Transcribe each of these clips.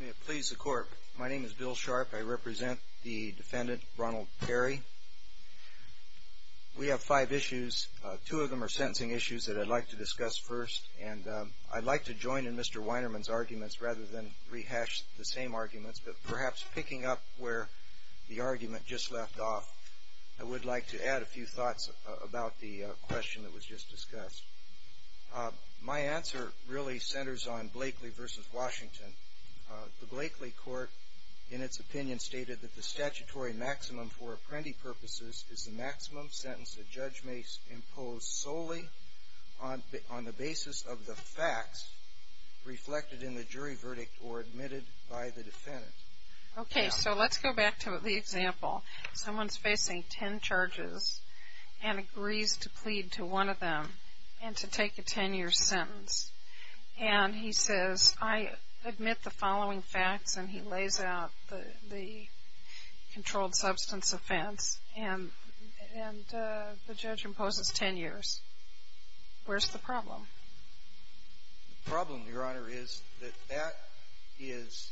May it please the court. My name is Bill Sharp. I represent the defendant, Ronald Parry. We have five issues. Two of them are sentencing issues that I'd like to discuss first, and I'd like to join in Mr. Weinerman's arguments rather than rehash the same arguments, but perhaps picking up where the argument just left off, I would like to add a few thoughts about the question that was just discussed. My answer really centers on Blakely v. Washington. The Blakely court, in its opinion, stated that the statutory maximum for apprendee purposes is the maximum sentence a judge may impose solely on the basis of the facts reflected in the jury verdict or admitted by the defendant. Okay, so let's go back to the example. Someone's facing 10 charges and agrees to plead to one of them and to take a 10-year sentence, and he says, I admit the following facts, and he lays out the controlled substance offense, and the judge imposes 10 years. Where's the problem? The problem, Your Honor, is that that is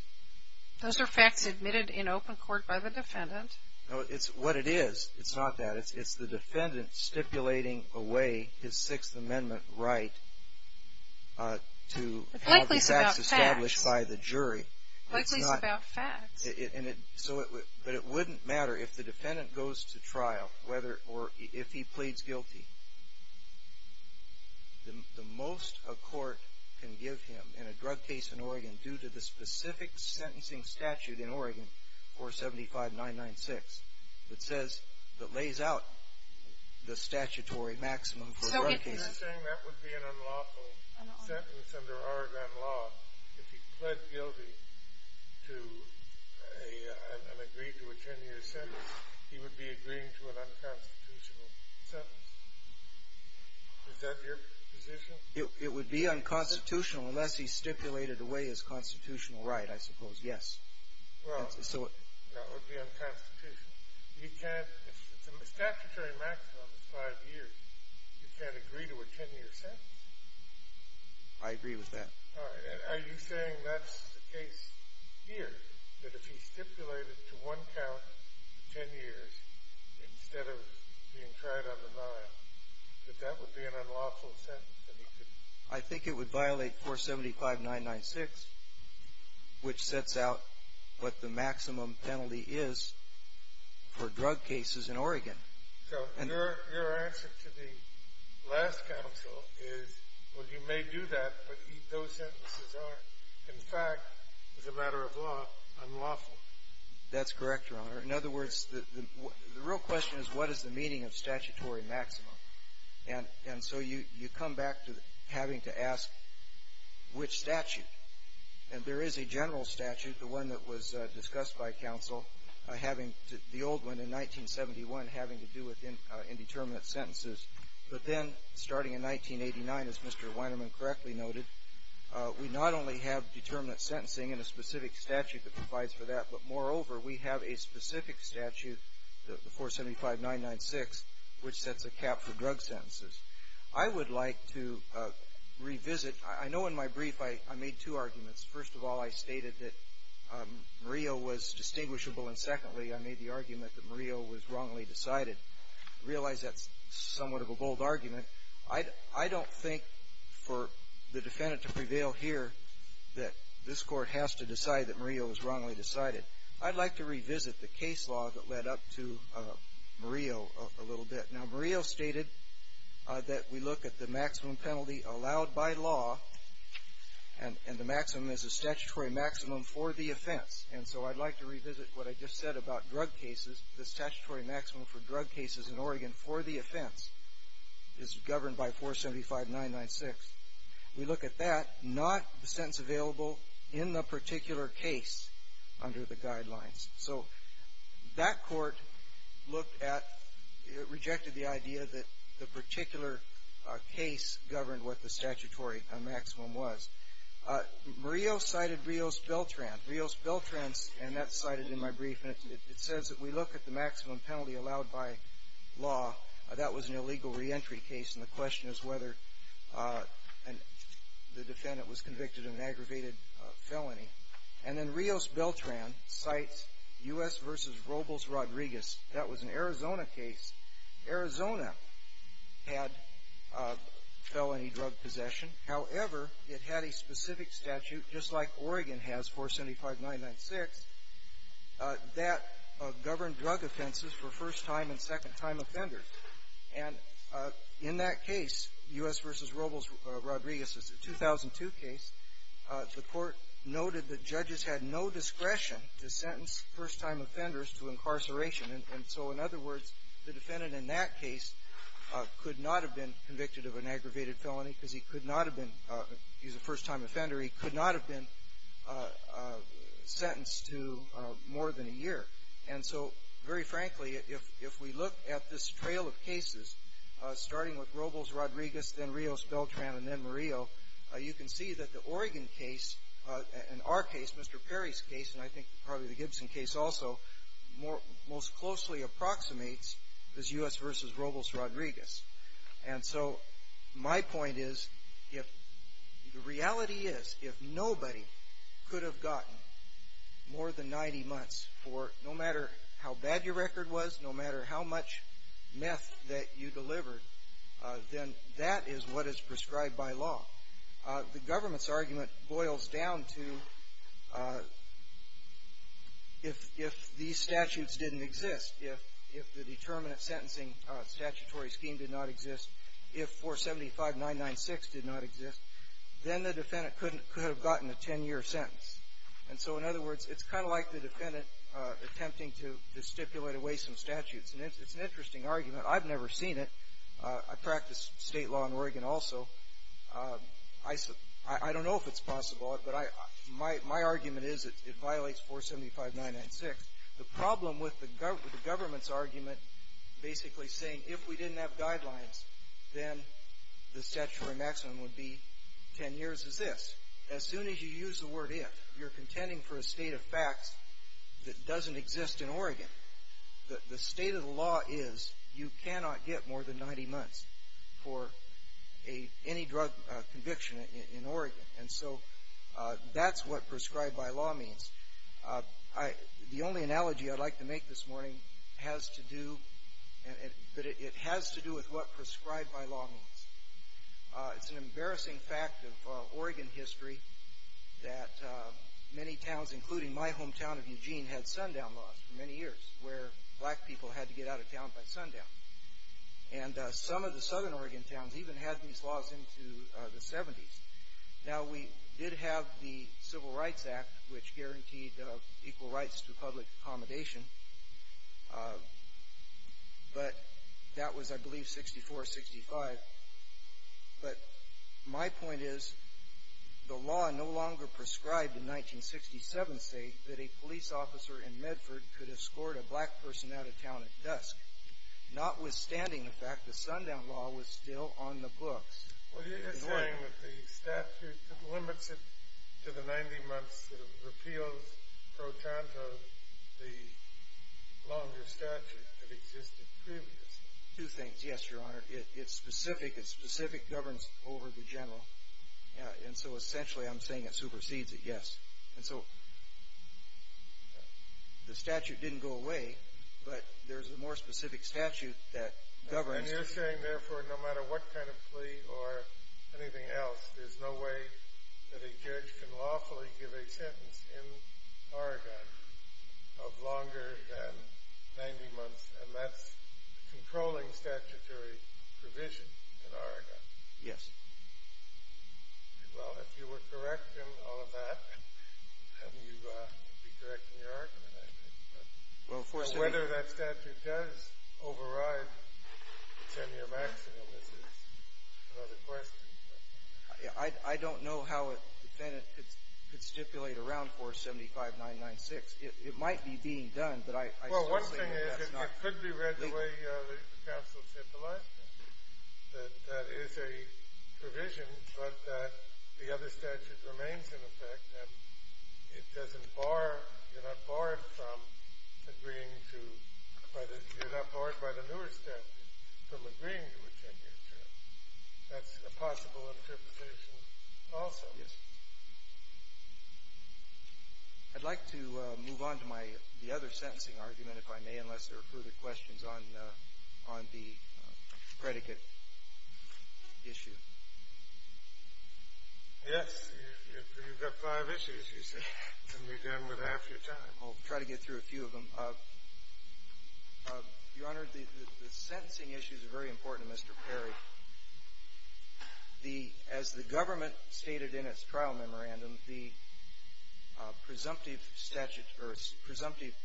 Those are facts admitted in open court by the defendant. No, it's what it is. It's not that. It's the defendant stipulating away his Sixth Amendment right to have these facts established by the jury. Blakely's about facts. Blakely's about facts. But it wouldn't matter if the defendant goes to trial, or if he pleads guilty. The most a court can give him in a drug case in Oregon, due to the specific sentencing statute in Oregon, 475996, that says, that lays out the statutory maximum for a drug case. So if you're saying that would be an unlawful sentence under Oregon law, if he pled guilty to an unagreed to a 10-year sentence, he would be agreeing to an unconstitutional sentence? Is that your position? It would be unconstitutional unless he stipulated away his constitutional right, I suppose, yes. Well, that would be unconstitutional. You can't, if the statutory maximum is five years, you can't agree to a 10-year sentence. I agree with that. Are you saying that's the case here? That if he stipulated to one count, 10 years, instead of being tried on denial, that that would be an unlawful sentence? I think it would violate 475996, which sets out what the maximum penalty is for drug cases in Oregon. So your answer to the last counsel is, well, you may do that, but those sentences are, in fact, as a matter of law, unlawful. That's correct, Your Honor. In other words, the real question is, what is the meaning of statutory maximum? And so you come back to having to ask which statute. And there is a general statute, the one that was discussed by counsel, having the old one in 1971 having to do with indeterminate sentences. But then, starting in 1989, as Mr. Weinerman correctly noted, we not only have determinate sentencing and a specific statute that provides for that, but moreover, we have a specific statute, the 475996, which sets a cap for drug sentences. I would like to revisit. I know in my brief I made two arguments. First of all, I stated that Murillo was distinguishable. And secondly, I made the argument that Murillo was wrongly decided. I realize that's somewhat of a bold argument. I don't think for the defendant to prevail here that this Court has to decide that Murillo was wrongly decided. I'd like to revisit the case law that led up to Murillo a little bit. Now, Murillo stated that we look at the maximum penalty allowed by law, and the maximum is a statutory maximum for the offense. And so I'd like to revisit what I just said about drug cases. The statutory maximum for drug cases in Oregon for the offense is governed by 475996. We look at that, not the sentence available in the particular case under the guidelines. So that Court looked at, rejected the idea that the particular case governed what the statutory maximum was. Murillo cited Rios Beltran. Rios Beltran's, and that's cited in my brief, and it says that we look at the maximum penalty allowed by law. That was an illegal reentry case, and the question is whether the defendant was convicted of an aggravated felony. And then Rios Beltran cites U.S. v. Robles Rodriguez. That was an Arizona case. Arizona had felony drug possession. However, it had a specific statute, just like Oregon has, 475996, that governed drug offenses for first-time and second-time offenders. And in that case, U.S. v. Robles Rodriguez, it's a 2002 case, the Court noted that judges had no discretion to sentence first-time offenders to incarceration. And so, in other words, the defendant in that case could not have been convicted of an aggravated felony. He was a first-time offender. He could not have been sentenced to more than a year. And so, very frankly, if we look at this trail of cases, starting with Robles Rodriguez, then Rios Beltran, and then Murillo, you can see that the Oregon case and our case, Mr. Perry's case, and I think probably the Gibson case also, most closely approximates this U.S. v. Robles Rodriguez. And so, my point is, the reality is, if nobody could have gotten more than 90 months for no matter how bad your record was, no matter how much meth that you delivered, then that is what is prescribed by law. The government's argument boils down to, if these statutes didn't exist, if the determinant sentencing statutory scheme did not exist, if 475-996 did not exist, then the defendant could have gotten a 10-year sentence. And so, in other words, it's kind of like the defendant attempting to stipulate away some statutes. And it's an interesting argument. I've never seen it. I practice state law in Oregon also. I don't know if it's possible, but my argument is it violates 475-996. The problem with the government's argument basically saying, if we didn't have guidelines, then the statutory maximum would be 10 years is this. As soon as you use the word if, you're contending for a state of facts that doesn't exist in Oregon. The state of the law is, you cannot get more than 90 months for any drug conviction in Oregon. And so, that's what prescribed by law means. The only analogy I'd like to make this morning has to do, but it has to do with what prescribed by law means. It's an embarrassing fact of Oregon history that many towns, including my hometown of Eugene, had sundown laws for many years, where black people had to get out of town by sundown. And some of the southern Oregon towns even had these laws into the 70s. Now, we did have the Civil Rights Act, which guaranteed equal rights to public accommodation. But that was, I believe, 64-65. But my point is, the law no longer prescribed in 1967 states that a police officer in Medford could escort a black person out of town at dusk, notwithstanding the fact the sundown law was still on the books. Well, you're saying that the statute that limits it to the 90 months sort of repeals pro tanto the longer statute that existed previously. Two things. Yes, Your Honor. It's specific. It's specific governance over the general. And so, essentially, I'm saying it supersedes it, yes. And so, the statute didn't go away, but there's a more specific statute that governs. And you're saying, therefore, no matter what kind of plea or anything else, there's no way that a judge can lawfully give a sentence in Oregon of longer than 90 months, and that's controlling statutory provision in Oregon. Yes. Well, if you were correct in all of that, and you would be correct in your argument, but whether that statute does override the 10-year maximum is another question. I don't know how a defendant could stipulate around 475996. It might be being done, but I certainly think that's not legal. Well, one thing is it could be read the way the counsel said the last time, that that is a provision, but that the other statute remains in effect, and it doesn't bar You're not barred from agreeing to You're not barred by the newer statute from agreeing to a 10-year term. That's a possible interpretation also. Yes. I'd like to move on to the other sentencing argument, if I may, unless there are further questions on the predicate issue. Yes. You've got five issues, you say, and you're done with half your time. I'll try to get through a few of them. Your Honor, the sentencing issues are very important to Mr. Perry. As the government stated in its trial memorandum, the presumptive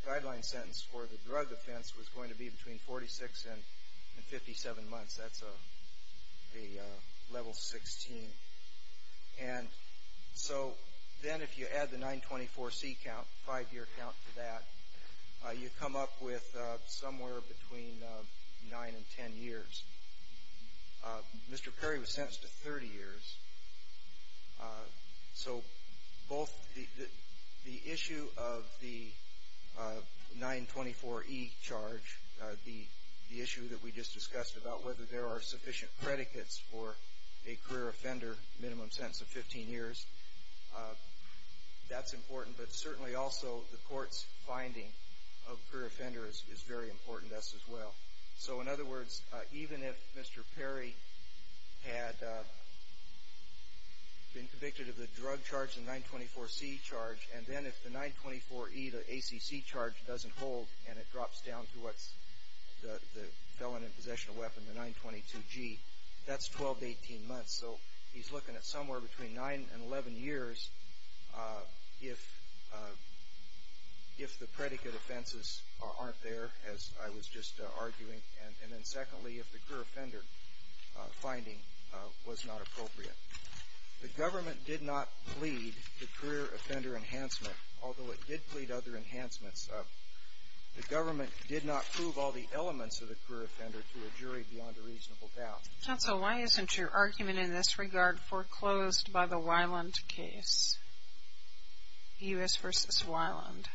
guideline sentence for the drug offense was going to be between 46 and 57 months. That's a level 16. And so then if you add the 924C count, five-year count for that, you come up with somewhere between 9 and 10 years. Mr. Perry was sentenced to 30 years. So both the issue of the 924E charge, the issue that we just discussed about whether there are sufficient predicates for a career offender, minimum sentence of 15 years, that's important. But certainly also the court's finding of career offenders is very important to us as well. So in other words, even if Mr. Perry had been convicted of the drug charge, the 924C charge, and then if the 924E, the ACC charge, doesn't hold and it drops down to what's the felon in possession of a weapon, the 922G, that's 12 to 18 months. So he's looking at somewhere between 9 and 11 years if the predicate offenses aren't there, as I was just arguing, and then secondly, if the career offender finding was not appropriate. The government did not plead the career offender enhancement, although it did plead other enhancements. The government did not prove all the elements of the career offender to a jury beyond a reasonable doubt. Counsel, why isn't your argument in this regard foreclosed by the Weiland case, U.S. v. Weiland?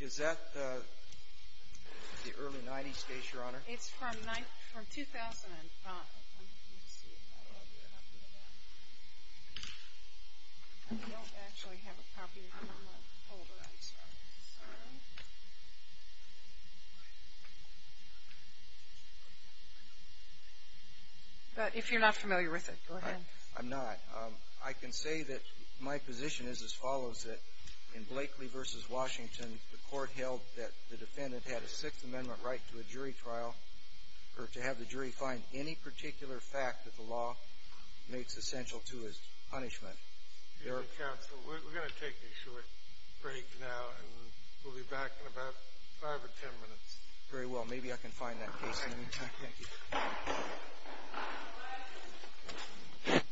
Is that the early 90s case, Your Honor? It's from 2005. Let me see if I have a copy of that. I don't actually have a copy of it on my folder, I'm sorry. But if you're not familiar with it, go ahead. I'm not. I can say that my position is as follows. In Blakely v. Washington, the court held that the defendant had a Sixth Amendment right to a jury trial or to have the jury find any particular fact that the law makes essential to his punishment. Counsel, we're going to take a short break now, and we'll be back in about 5 or 10 minutes. Very well. Maybe I can find that case in the meantime. Thank you.